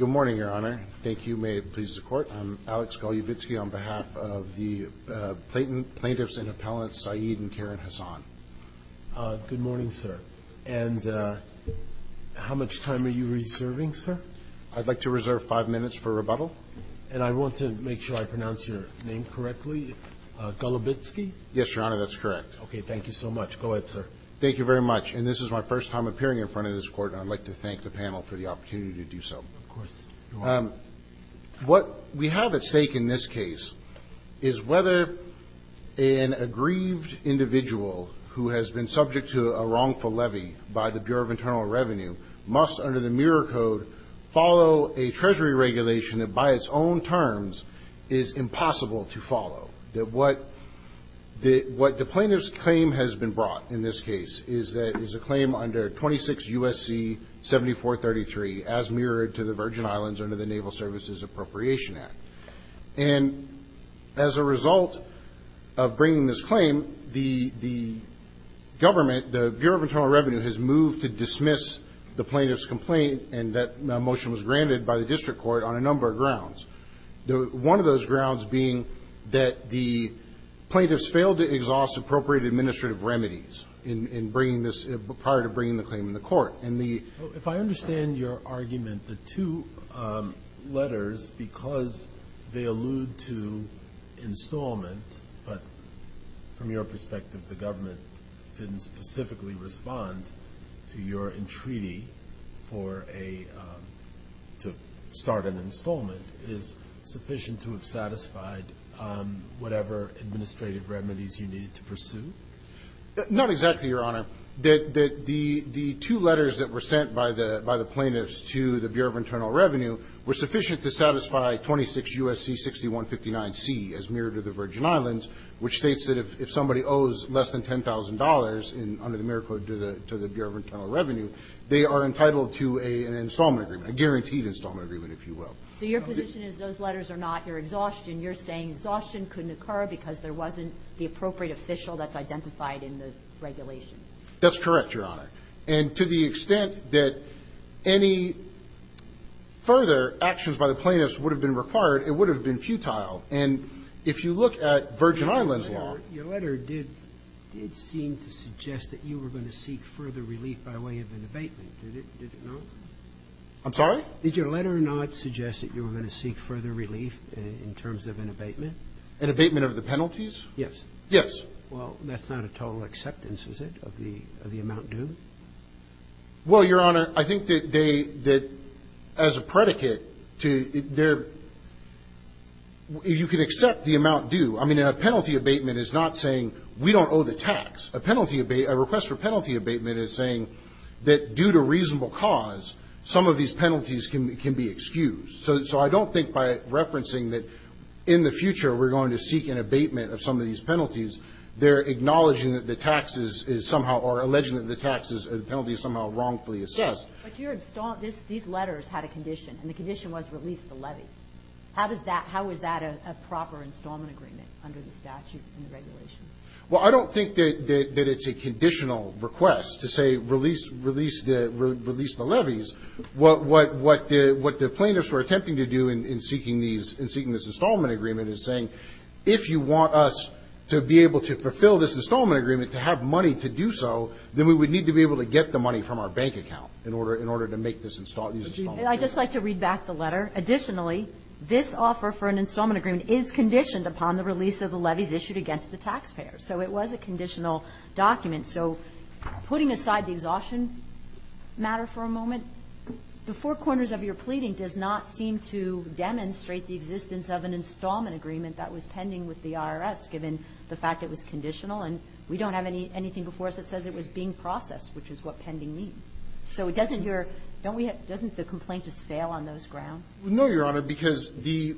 Good morning, Your Honor. Thank you. May it please the Court. I'm Alex Golubitsky on behalf of the plaintiffs and appellants Saeed and Karen Hassan. Good morning, sir. And how much time are you reserving, sir? I'd like to reserve five minutes for rebuttal. And I want to make sure I pronounce your name correctly. Golubitsky? Yes, Your Honor. That's correct. Okay. Thank you so much. Go ahead, sir. Thank you very much. And this is my first time appearing in front of this court. I'd like to thank the panel for the opportunity to do so. Of course. What we have at stake in this case, is whether an aggrieved individual who has been subject to a wrongful levy by the Bureau of Internal Revenue must, under the Mirror Code, follow a Treasury regulation that, by its own terms, is impossible to follow. That what the plaintiff's claim has been brought in this case is that it was a claim under 26 U.S.C. 7433, as mirrored to the Virgin Islands under the Naval Services Appropriation Act. And as a result of bringing this claim, the government, the Bureau of Internal Revenue, has moved to dismiss the plaintiff's complaint, and that motion was granted by the district court on a number of grounds. One of those grounds being that the plaintiffs failed to exhaust appropriate administrative remedies in bringing this, prior to bringing the claim in the court. So, if I understand your argument, the two letters, because they allude to installment, but from your perspective the government didn't specifically respond to your entreaty for a, to start an installment, is sufficient to have satisfied whatever administrative remedies you needed to pursue? Not exactly, Your Honor. The two letters that were sent by the plaintiffs to the Bureau of Internal Revenue were sufficient to satisfy 26 U.S.C. 6159C, as mirrored to the Virgin Islands, which states that if somebody owes less than $10,000 under the Mirror Code to the Bureau of Internal Revenue, they are entitled to an installment agreement, a guaranteed installment agreement, if you will. So your position is those letters are not your exhaustion. You're saying exhaustion couldn't occur because there wasn't the appropriate official that's identified in the regulation. That's correct, Your Honor. And to the extent that any further actions by the plaintiffs would have been required, it would have been futile. And if you look at Virgin Islands law Your letter did seem to suggest that you were going to seek further relief by way of an abatement. Did it not? I'm sorry? Did your letter not suggest that you were going to seek further relief in terms of an abatement? An abatement of the penalties? Yes. Yes. Well, that's not a total acceptance, is it, of the amount due? Well, Your Honor, I think that they as a predicate to their you can accept the amount due. I mean, a penalty abatement is not saying we don't owe the tax. A penalty abatement, a request for penalty abatement is saying that due to reasonable cause, some of these penalties can be excused. So I don't think by referencing that in the future we're going to seek an abatement of some of these penalties, they're acknowledging that the taxes is somehow or alleging that the penalty is somehow wrongfully assessed. Yes, but these letters had a condition, and the condition was release the levy. How is that a proper installment agreement under the statute in the regulation? Well, I don't think that it's a conditional request to say release the levies. What the plaintiffs were attempting to do in seeking these, in seeking this installment agreement is saying, if you want us to be able to fulfill this installment agreement, to have money to do so, then we would need to be able to get the money from our bank account in order to make this installment agreement. I'd just like to read back the letter. Additionally, this offer for an installment agreement is conditioned upon the release of the levies issued against the taxpayer, so it was a conditional document. So putting aside the exhaustion matter for a moment, the four corners of your pleading does not seem to demonstrate the existence of an installment agreement that was pending with the IRS, given the fact it was conditional, and we don't have anything before us that says it was being processed, which is what pending means. So it doesn't your don't we have doesn't the complaint just fail on those grounds? No, Your Honor, because the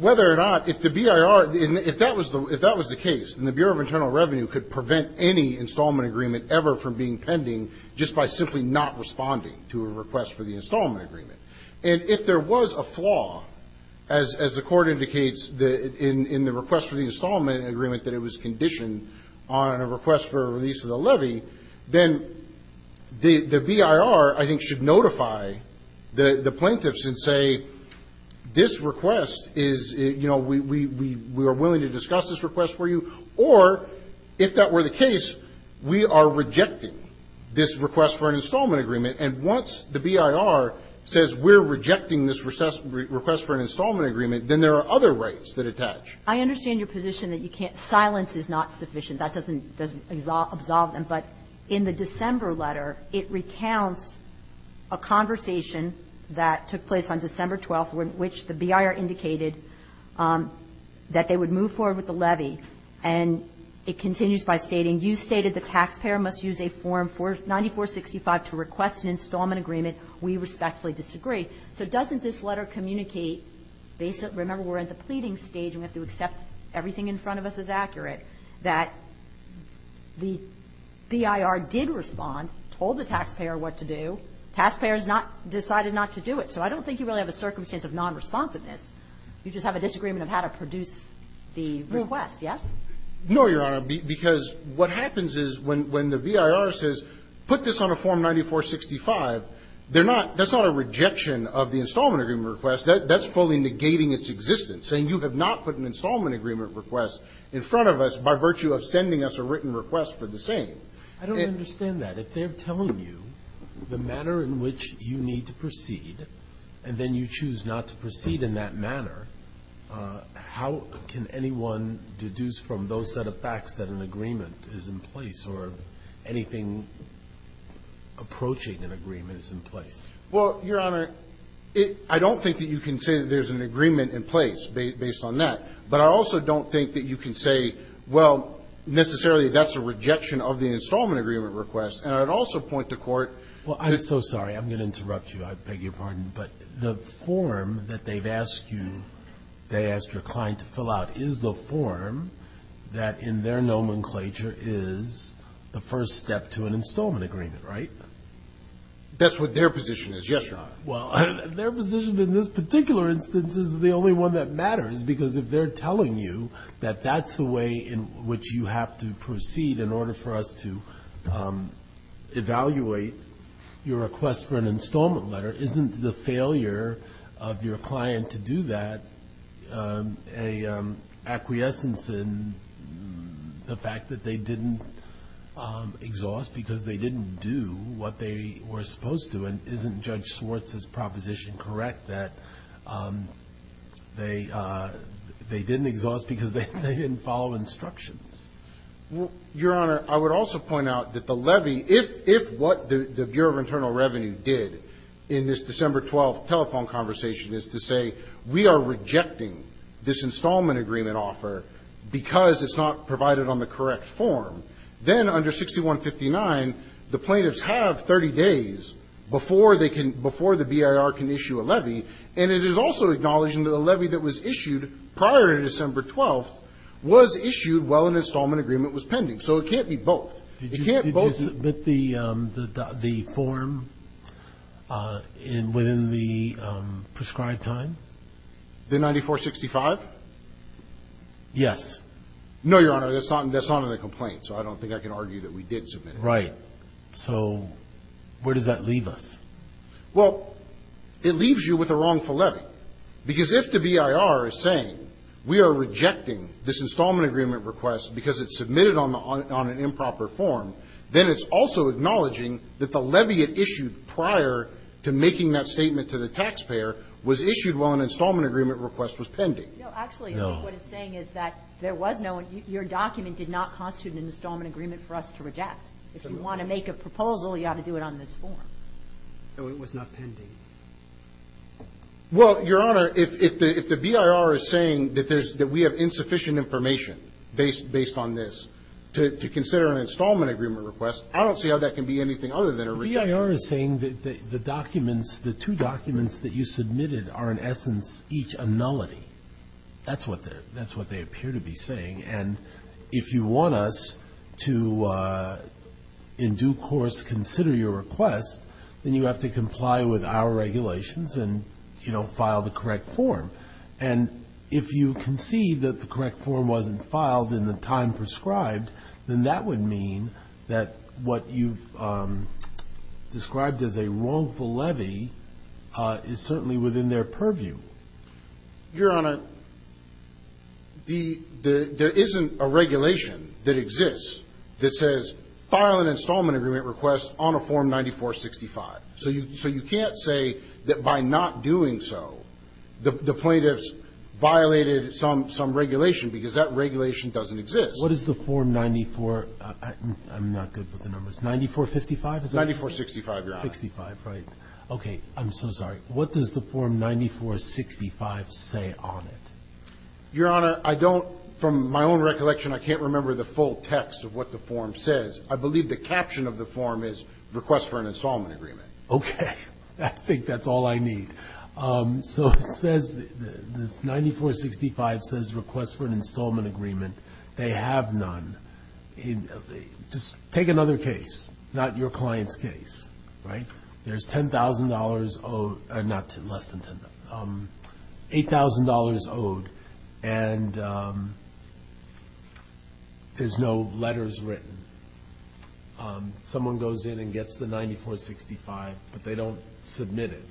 whether or not if the BIR, if that was the case, and the Bureau of Internal Revenue could prevent any installment agreement ever from being pending just by simply not responding to a request for the installment agreement, and if there was a flaw, as the Court indicates in the request for the installment agreement that it was conditioned on a request for a release of the levy, then the BIR, I think, should notify the plaintiffs and say, this request is, you know, we are willing to discuss this request for you, or if that were the case, we are rejecting this request for an installment agreement, and once the BIR says we're rejecting this request for an installment agreement, then there are other rights that attach. I understand your position that you can't – silence is not sufficient. That doesn't absolve them. But in the December letter, it recounts a conversation that took place on December 12th, in which the BIR indicated that they would move forward with the levy, and it continues by stating, you stated the taxpayer must use a form 9465 to request an installment agreement. We respectfully disagree. So doesn't this letter communicate – remember, we're at the pleading stage, we have to accept everything in front of us as accurate – that the BIR did respond, told the taxpayer what to do, the taxpayer has not decided not to do it. So I don't think you really have a circumstance of nonresponsiveness. You just have a disagreement of how to produce the request, yes? No, Your Honor, because what happens is when the BIR says put this on a form 9465, they're not – that's not a rejection of the installment agreement request. That's fully negating its existence, saying you have not put an installment agreement request in front of us by virtue of sending us a written request for the same. I don't understand that. If they're telling you the manner in which you need to proceed, and then you choose not to proceed in that manner, how can anyone deduce from those set of facts that an agreement is in place, or anything approaching an agreement is in place? Well, Your Honor, I don't think that you can say that there's an agreement in place based on that. But I also don't think that you can say, well, necessarily that's a rejection of the installment agreement request. And I would also point to court – Well, I'm so sorry. I'm going to interrupt you. I beg your pardon. But the form that they've asked you – they asked your client to fill out is the form that in their nomenclature is the first step to an installment agreement, right? That's what their position is, yes, Your Honor. Well, their position in this particular instance is the only one that matters, because if they're telling you that that's the way in which you have to proceed in order for us to evaluate your request for an installment letter, isn't the failure of your client to do that an acquiescence in the fact that they didn't exhaust because they didn't do what they were supposed to? And isn't Judge Swartz's proposition correct that they didn't exhaust because they didn't follow instructions? Well, Your Honor, I would also point out that the levy – if what the Bureau of Internal Revenue did in this December 12th telephone conversation is to say, we are rejecting this installment agreement offer because it's not provided on the correct form, then under 6159, the plaintiffs have 30 days before they can – before the BIR can issue a levy, and it is also acknowledging that a levy that was issued prior to December 12th was issued while an installment agreement was pending, so it can't be both. Did you submit the form in – within the prescribed time? The 9465? Yes. No, Your Honor, that's not in the complaint, so I don't think I can argue that we did submit it. Right. So where does that leave us? Well, it leaves you with a wrongful levy, because if the BIR is saying, we are rejecting this installment agreement request because it's submitted on an improper form, then it's also acknowledging that the levy it issued prior to making that statement to the taxpayer was issued while an installment agreement request was pending. No, actually, I think what it's saying is that there was no – your document did not constitute an installment agreement for us to reject. If you want to make a proposal, you ought to do it on this form. No, it was not pending. Well, Your Honor, if the BIR is saying that there's – that we have insufficient information based on this to consider an installment agreement request, I don't see how that can be anything other than a rejection. The BIR is saying that the documents, the two documents that you submitted are, in essence, each a nullity. That's what they appear to be saying. And if you want us to, in due course, consider your request, then you have to comply with our regulations and, you know, file the correct form. And if you concede that the correct form wasn't filed in the time prescribed, then that would mean that what you've described as a wrongful levy is certainly within their purview. Your Honor, the – there isn't a regulation that exists that says, file an installment agreement request on a form 9465. So you – so you can't say that by not doing so, the plaintiffs violated some regulation because that regulation doesn't exist. What is the form 94 – I'm not good with the numbers. 9455 is it? 9465, Your Honor. 65, right. Okay. I'm so sorry. What does the form 9465 say on it? Your Honor, I don't – from my own recollection, I can't remember the full text of what the form says. I believe the caption of the form is, request for an installment agreement. Okay. I think that's all I need. So it says – this 9465 says, request for an installment agreement. They have none. Just take another case, not your client's case, right? There's $10,000 owed – not – less than $10,000 – $8,000 owed, and there's no letters written. Someone goes in and gets the 9465, but they don't submit it.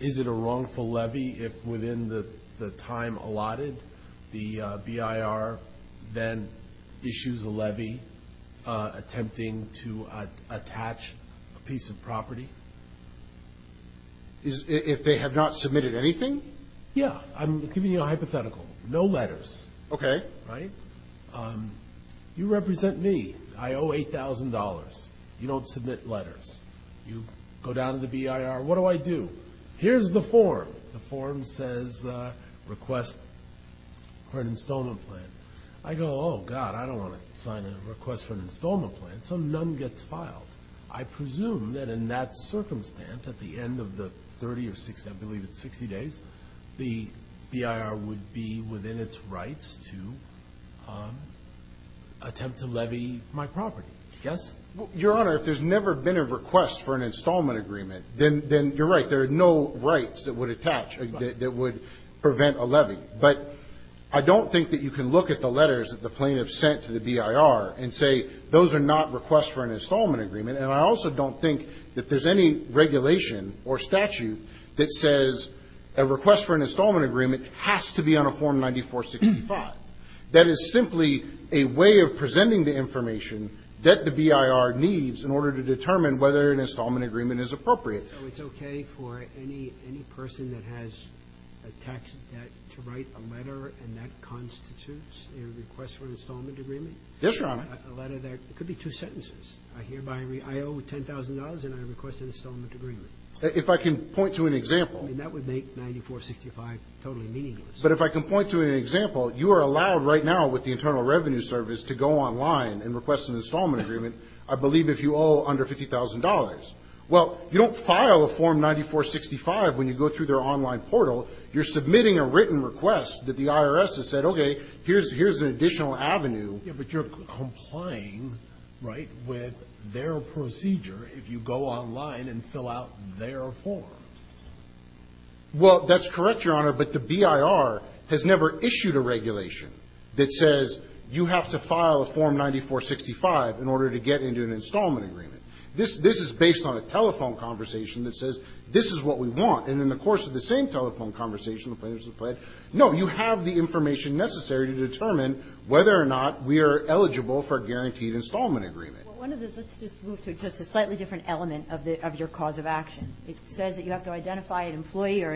Is it a wrongful levy if within the time allotted, the BIR then issues a levy attempting to attach a piece of property? If they have not submitted anything? Yeah. I'm giving you a hypothetical. No letters. Okay. Right? You represent me. I owe $8,000. You don't submit letters. You go down to the BIR. What do I do? Here's the form. The form says, request for an installment plan. I go, oh, God, I don't want to sign a request for an installment plan. So none gets filed. I presume that in that circumstance, at the end of the 30 or 60 – I believe it's 60 days, the BIR would be within its rights to attempt to levy my property. Yes? Your Honor, if there's never been a request for an installment agreement, then you're right. There are no rights that would attach – that would prevent a levy. But I don't think that you can look at the letters that the plaintiff sent to the BIR and say, those are not requests for an installment agreement. And I also don't think that there's any regulation or statute that says a request for an installment agreement has to be on a Form 9465. That is simply a way of presenting the information that the BIR needs in order to determine whether an installment agreement is appropriate. So it's okay for any person that has a tax debt to write a letter and that constitutes a request for an installment agreement? Yes, Your Honor. A letter that – it could be two sentences. I hear by – I owe $10,000 and I request an installment agreement. If I can point to an example – I mean, that would make 9465 totally meaningless. But if I can point to an example, you are allowed right now with the Internal Revenue Service to go online and request an installment agreement, I believe if you owe under $50,000. Well, you don't file a Form 9465 when you go through their online portal. You're submitting a written request that the IRS has said, okay, here's an additional avenue. Yes, but you're complying, right, with their procedure if you go online and fill out their form. Well, that's correct, Your Honor. But the BIR has never issued a regulation that says you have to file a Form 9465 in order to get into an installment agreement. This is based on a telephone conversation that says this is what we want. And in the course of the same telephone conversation, the plaintiffs have pledged, no, you have the information necessary to determine whether or not we are eligible for a guaranteed installment agreement. Well, one of the – let's just move to just a slightly different element of your cause of action. It says that you have to identify an employee or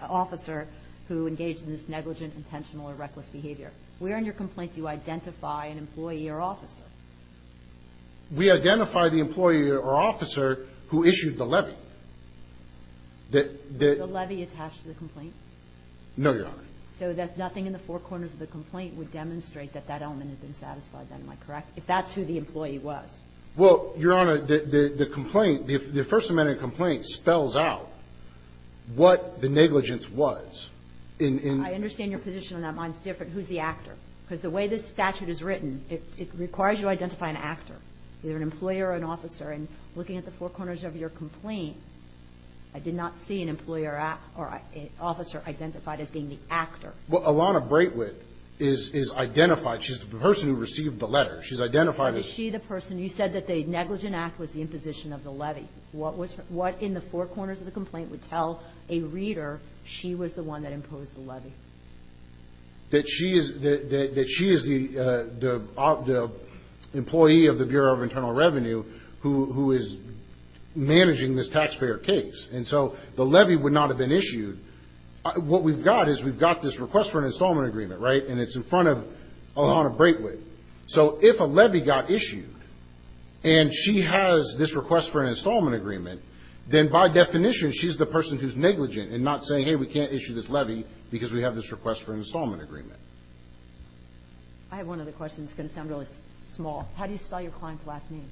an officer who engaged in this negligent, intentional, or reckless behavior. Where in your complaint do you identify an employee or officer? We identify the employee or officer who issued the levy. The levy attached to the complaint? No, Your Honor. So that nothing in the four corners of the complaint would demonstrate that that element had been satisfied, then, am I correct, if that's who the employee was? Well, Your Honor, the complaint, the First Amendment complaint spells out what the negligence was. I understand your position on that. Mine's different. Who's the actor? Because the way this statute is written, it requires you to identify an actor, either an employee or an officer. And looking at the four corners of your complaint, I did not see an employee or officer identified as being the actor. Well, Alana Braitwit is identified. She's the person who received the letter. She's identified as – Was she the person – you said that the negligent act was the imposition of the levy. What in the four corners of the complaint would tell a reader she was the one that imposed the levy? That she is the employee of the Bureau of Internal Revenue who is managing this taxpayer case. And so the levy would not have been issued. What we've got is we've got this request for an installment agreement, right? And it's in front of Alana Braitwit. So if a levy got issued and she has this request for an installment agreement, then by definition, she's the person who's negligent and not saying, hey, we can't issue this levy because we have this request for an installment agreement. I have one other question. It's going to sound really small. How do you spell your client's last name?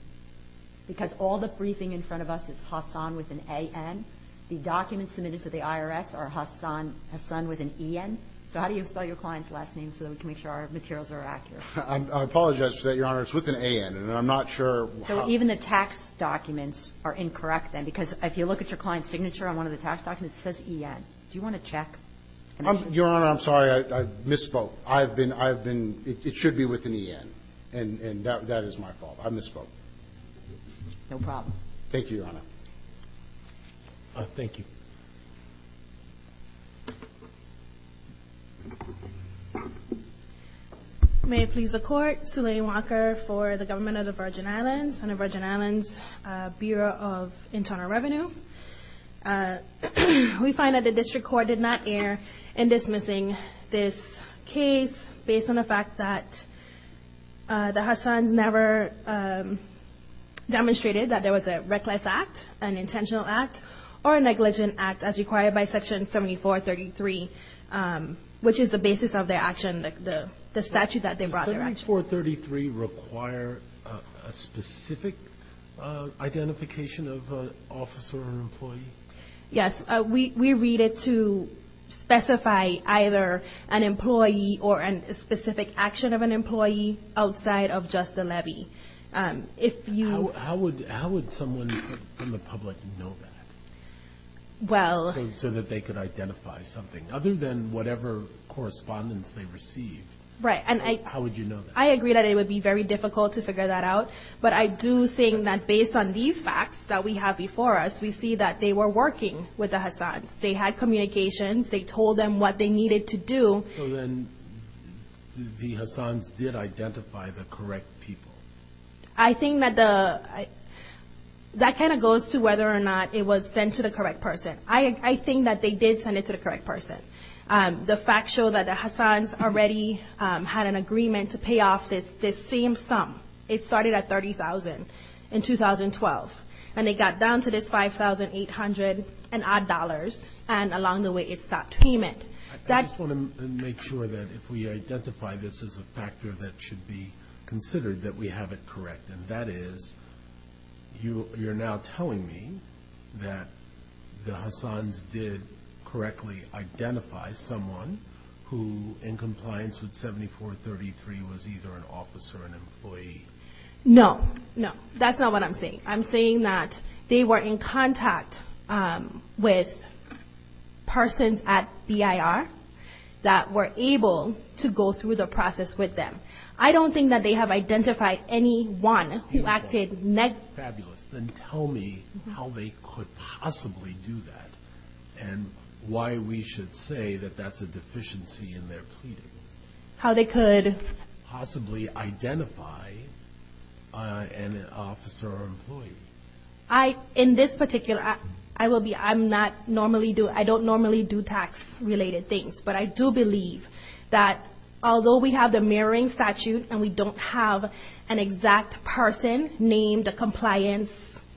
Because all the briefing in front of us is Hassan with an A-N. The documents submitted to the IRS are Hassan with an E-N. So how do you spell your client's last name so that we can make sure our materials are accurate? I apologize for that, Your Honor. It's with an A-N. And I'm not sure how – So even the tax documents are incorrect then? Because if you look at your client's signature on one of the tax documents, it says E-N. Do you want to check? Your Honor, I'm sorry. I misspoke. I've been – it should be with an E-N. And that is my fault. I misspoke. No problem. Thank you, Your Honor. Thank you. May it please the Court. Suleyma Walker for the Government of the Virgin Islands and the Virgin Islands Bureau of Internal Revenue. We find that the district court did not err in dismissing this case based on the fact that the Hassans never demonstrated that there was a reckless act, an intentional act, or a negligent act as required by Section 7433, which is the basis of their action, the statute that they brought their action. Does 7433 require a specific identification of an officer or employee? Yes. We read it to specify either an employee or a specific action of an employee outside of just the levy. If you – How would someone from the public know that? Well – So that they could identify something, other than whatever correspondence they received. Right. And I – I agree that it would be very difficult to figure that out. But I do think that based on these facts that we have before us, we see that they were working with the Hassans. They had communications. They told them what they needed to do. So then the Hassans did identify the correct people? I think that the – that kind of goes to whether or not it was sent to the correct person. I think that they did send it to the correct person. The facts show that the Hassans already had an agreement to pay off this same sum. It started at $30,000 in 2012. And it got down to this $5,800 and odd dollars. And along the way, it stopped payment. I just want to make sure that if we identify this as a factor that should be considered, that we have it correct. And that is, you're now telling me that the Hassans did correctly identify someone who, in compliance with 7433, was either an officer or an employee? No. No. That's not what I'm saying. I'm saying that they were in contact with persons at BIR that were able to go through the process with them. I don't think that they have identified anyone who acted – Fabulous. Then tell me how they could possibly do that and why we should say that that's a deficiency in their pleading. How they could – Possibly identify an officer or employee. I – in this particular – I will be – I'm not normally do – I don't normally do tax-related things. But I do believe that although we have the mirroring statute and we don't have an exact person named a compliance –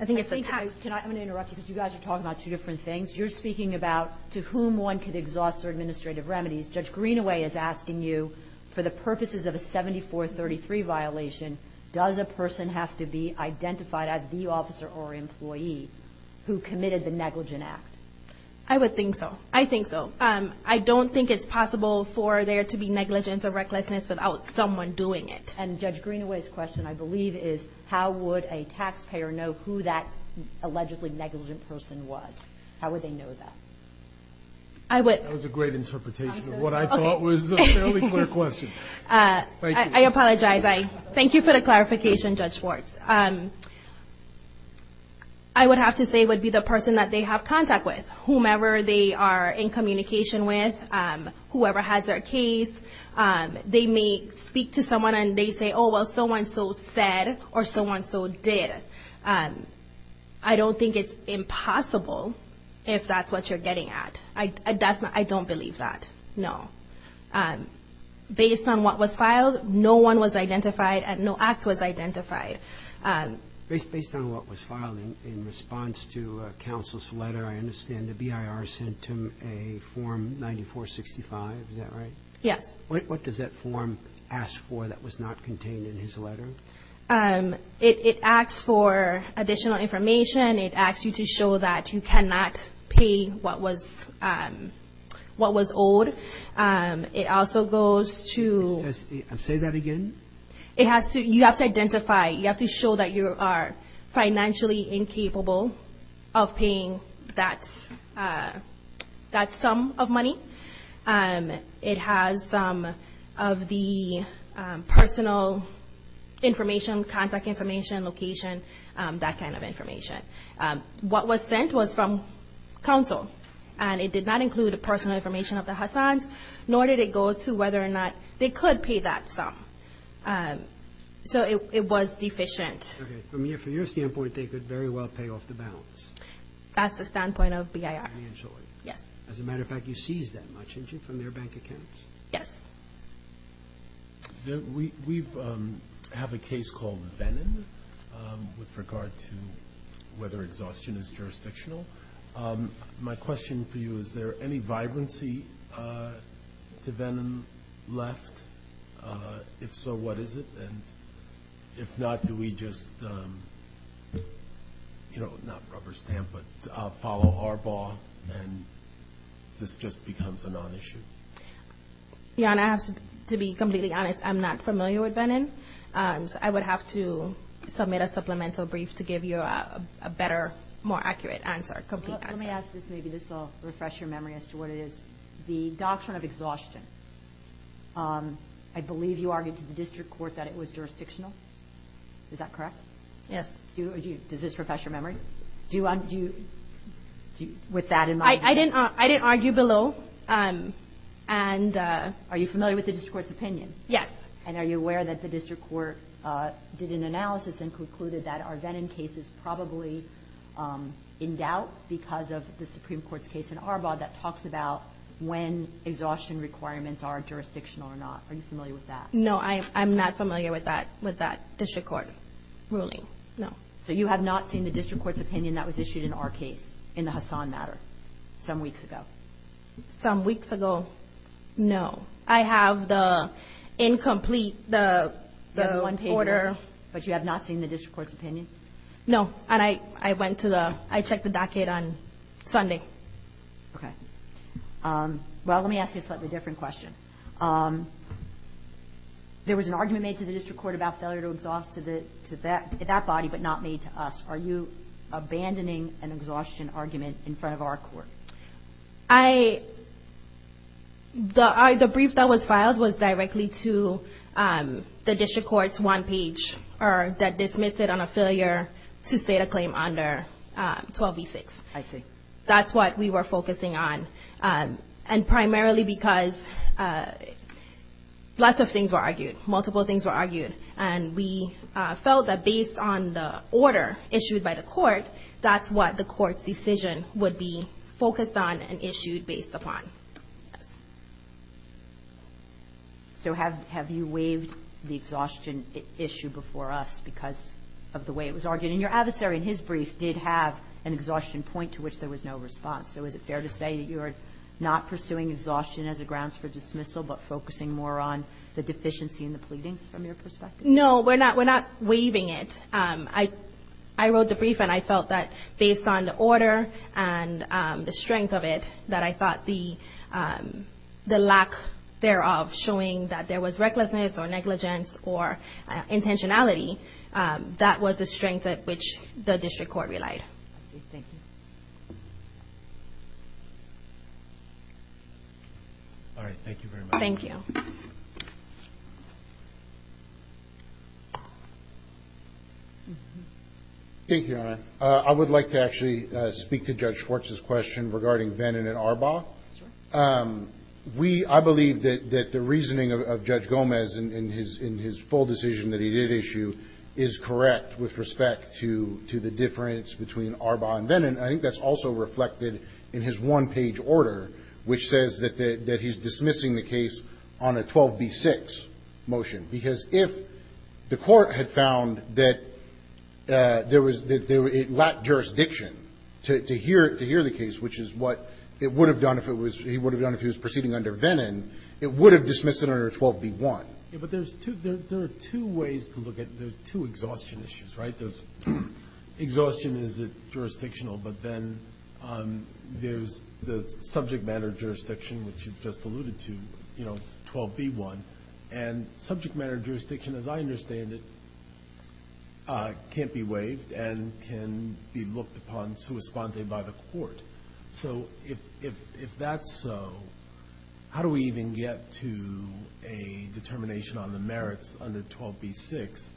I think it's a tax – I'm going to interrupt you because you guys are talking about two different things. You're speaking about to whom one could exhaust their administrative remedies. Judge Greenaway is asking you, for the purposes of a 7433 violation, does a person have to be identified as the officer or employee who committed the negligent act? I would think so. I think so. I don't think it's possible for there to be negligence or recklessness without someone doing it. And Judge Greenaway's question, I believe, is how would a taxpayer know who that allegedly negligent person was? How would they know that? I would – That was a great interpretation of what I thought was a fairly clear question. I apologize. I – thank you for the clarification, Judge Schwartz. I would have to say it would be the person that they have contact with, whomever they are in communication with, whoever has their case. They may speak to someone and they say, oh, well, so-and-so said or so-and-so did. I don't think it's impossible if that's what you're getting at. I don't believe that, no. Based on what was filed, no one was identified and no act was identified. Based on what was filed in response to counsel's letter, I understand the BIR sent him a form 9465. Is that right? Yes. What does that form ask for that was not contained in his letter? It asks for additional information. It asks you to show that you cannot pay what was owed. It also goes to – Say that again. It has to – you have to identify. You have to show that you are financially incapable of paying that sum of money. It has some of the personal information, contact information, location, that kind of information. What was sent was from counsel and it did not include personal information of the Hassans, nor did it go to whether or not they could pay that sum. So it was deficient. Okay. From your standpoint, they could very well pay off the balance. That's the standpoint of BIR. Financially. Yes. As a matter of fact, you seized that much, didn't you, from their bank accounts? Yes. We have a case called Venon with regard to whether exhaustion is jurisdictional. My question for you, is there any vibrancy to Venon left? If so, what is it? And if not, do we just, you know, not rubber stamp, but follow our ball and this just becomes a non-issue? Yeah, and I have to be completely honest. I'm not familiar with Venon. I would have to submit a supplemental brief to give you a better, more accurate answer, complete answer. Let me ask this. Maybe this will refresh your memory as to what it is. The doctrine of exhaustion. I believe you argued to the district court that it was jurisdictional. Is that correct? Yes. Do you, does this refresh your memory? Do you, with that in mind? I didn't argue below. And are you familiar with the district court's opinion? Yes. And are you aware that the district court did an analysis and concluded that our Venon case is probably in doubt because of the Supreme Court's case in Arbaugh that talks about when exhaustion requirements are jurisdictional or not. Are you familiar with that? No, I'm not familiar with that, with that district court ruling. No. So you have not seen the district court's opinion that was issued in our case in the Hassan matter some weeks ago? Some weeks ago, no. I have the incomplete, the order. But you have not seen the district court's opinion? No. And I went to the, I checked the docket on Sunday. Okay. Well, let me ask you a slightly different question. There was an argument made to the district court about failure to exhaust to that body, but not made to us. Are you abandoning an exhaustion argument in front of our court? I, the brief that was filed was directly to the district court's one page that dismissed it on a failure to state a claim under 12b-6. I see. That's what we were focusing on. And primarily because lots of things were argued, multiple things were argued. And we felt that based on the order issued by the court, that's what the court's decision would be focused on and issued based upon. So have, have you waived the exhaustion issue before us because of the way it was argued? And your adversary in his brief did have an exhaustion point to which there was no response. So is it fair to say that you are not pursuing exhaustion as a grounds for dismissal, but focusing more on the deficiency in the pleadings from your perspective? No, we're not, we're not waiving it. I, I wrote the brief and I felt that based on the order and the strength of it that I thought the, the lack thereof showing that there was recklessness or negligence or intentionality, that was the strength at which the district court relied. I see, thank you. All right, thank you very much. Thank you. Thank you, Your Honor. I would like to actually speak to Judge Schwartz's question regarding Vennin and Arbaugh. We, I believe that, that the reasoning of Judge Gomez in, in his, in his full decision that he did issue is correct with respect to, to the difference between Arbaugh and Vennin. I think that's also reflected in his one page order, which says that the, that he's dismissing the case on a 12B6 motion. Because if the court had found that there was, that there, it lacked jurisdiction to, to hear, to hear the case, which is what it would have done if it was, he would have done if he was proceeding under Vennin, it would have dismissed it under 12B1. Yeah, but there's two, there, there are two ways to look at, there's two exhaustion issues, right? There's exhaustion, is it jurisdictional? But then there's the subject matter jurisdiction, which you've just alluded to, you know, 12B1, and subject matter jurisdiction, as I understand it, can't be waived and can be looked upon sui sponte by the court. So if, if, if that's so, how do we even get to a determination on the merits under 12B6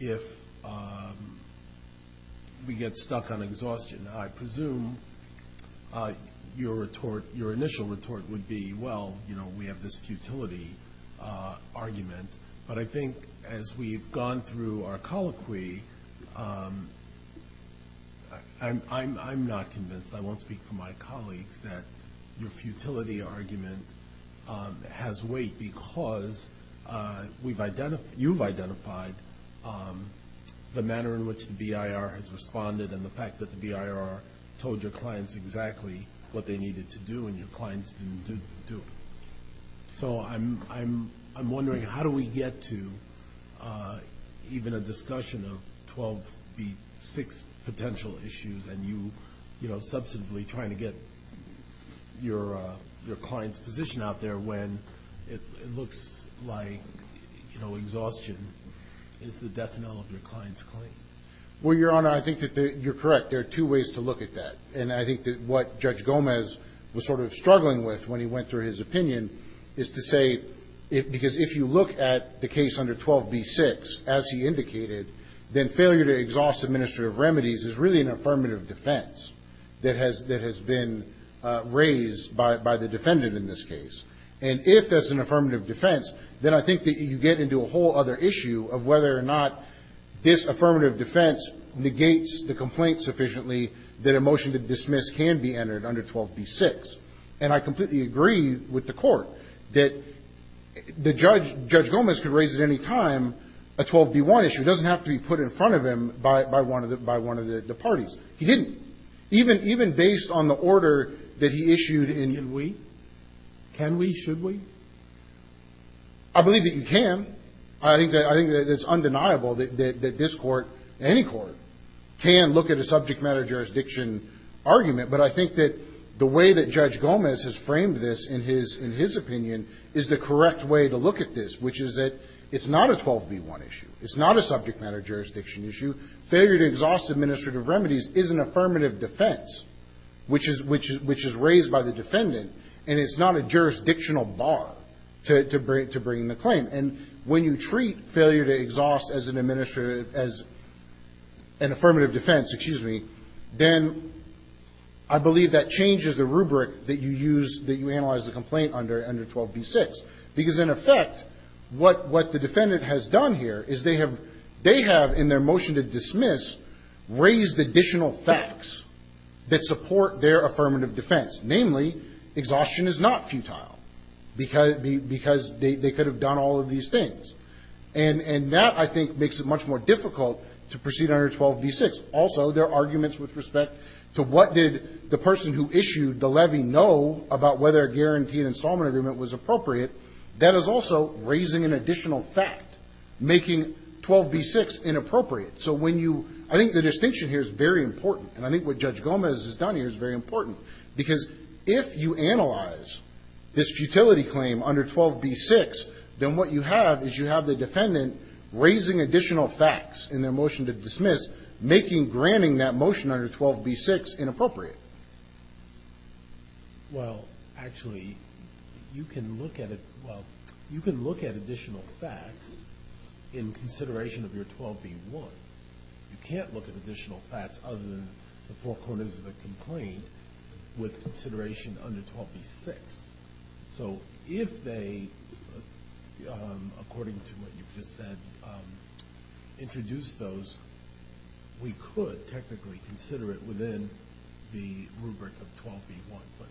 if we get stuck on exhaustion? I presume your retort, your initial retort would be, well, you know, we have this futility argument, but I think as we've gone through our colloquy, I'm, I'm, I'm not convinced, I won't speak for my colleagues, that your futility argument has weight because we've identified, you've identified the manner in which the BIR has told your clients exactly what they needed to do and your clients didn't do it. So I'm, I'm, I'm wondering how do we get to even a discussion of 12B6 potential issues, and you, you know, substantively trying to get your, your client's position out there when it looks like, you know, exhaustion is the death knell of your client's claim. Well, Your Honor, I think that you're correct. There are two ways to look at that, and I think that what Judge Gomez was sort of struggling with when he went through his opinion is to say, because if you look at the case under 12B6, as he indicated, then failure to exhaust administrative remedies is really an affirmative defense that has, that has been raised by, by the defendant in this case. And if that's an affirmative defense, then I think that you get into a whole other issue of whether or not this affirmative defense negates the complaint sufficiently that a motion to dismiss can be entered under 12B6. And I completely agree with the Court that the Judge, Judge Gomez could raise at any time a 12B1 issue. It doesn't have to be put in front of him by, by one of the, by one of the parties. He didn't. Even, even based on the order that he issued in... Can we? Can we? Should we? I believe that you can. I think that, I think that it's undeniable that, that, that this Court, any Court, can look at a subject matter jurisdiction argument. But I think that the way that Judge Gomez has framed this in his, in his opinion is the correct way to look at this, which is that it's not a 12B1 issue. It's not a subject matter jurisdiction issue. Failure to exhaust administrative remedies is an affirmative defense, which is, which is, which is raised by the defendant. And it's not a jurisdictional bar to, to bring, to bring the claim. And when you treat failure to exhaust as an administrative, as an affirmative defense, excuse me, then I believe that changes the rubric that you use, that you analyze the complaint under, under 12B6. Because in effect, what, what the defendant has done here is they have, they have in their motion to dismiss, raised additional facts that support their affirmative defense. Namely, exhaustion is not futile, because, because they, they could have done all of these things. And, and that, I think, makes it much more difficult to proceed under 12B6. Also, there are arguments with respect to what did the person who issued the levy know about whether a guaranteed installment agreement was appropriate. That is also raising an additional fact, making 12B6 inappropriate. So when you, I think the distinction here is very important, and I think what Judge If you analyze this futility claim under 12B6, then what you have is you have the defendant raising additional facts in their motion to dismiss, making granting that motion under 12B6 inappropriate. Well, actually, you can look at it, well, you can look at additional facts in consideration of your 12B1. You can't look at additional facts other than the four corners of a complaint with consideration under 12B6. So if they, according to what you've just said, introduce those, we could technically consider it within the rubric of 12B1, but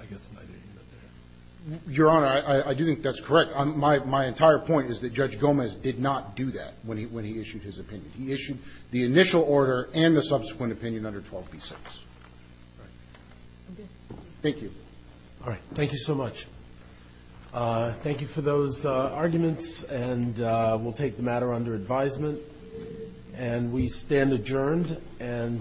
I guess neither here nor there. Your Honor, I, I do think that's correct. My, my entire point is that Judge Gomez did not do that when he, when he issued his opinion. He issued the initial order and the subsequent opinion under 12B6. All right. Thank you. All right. Thank you so much. Thank you for those arguments, and we'll take the matter under advisement. And we stand adjourned. And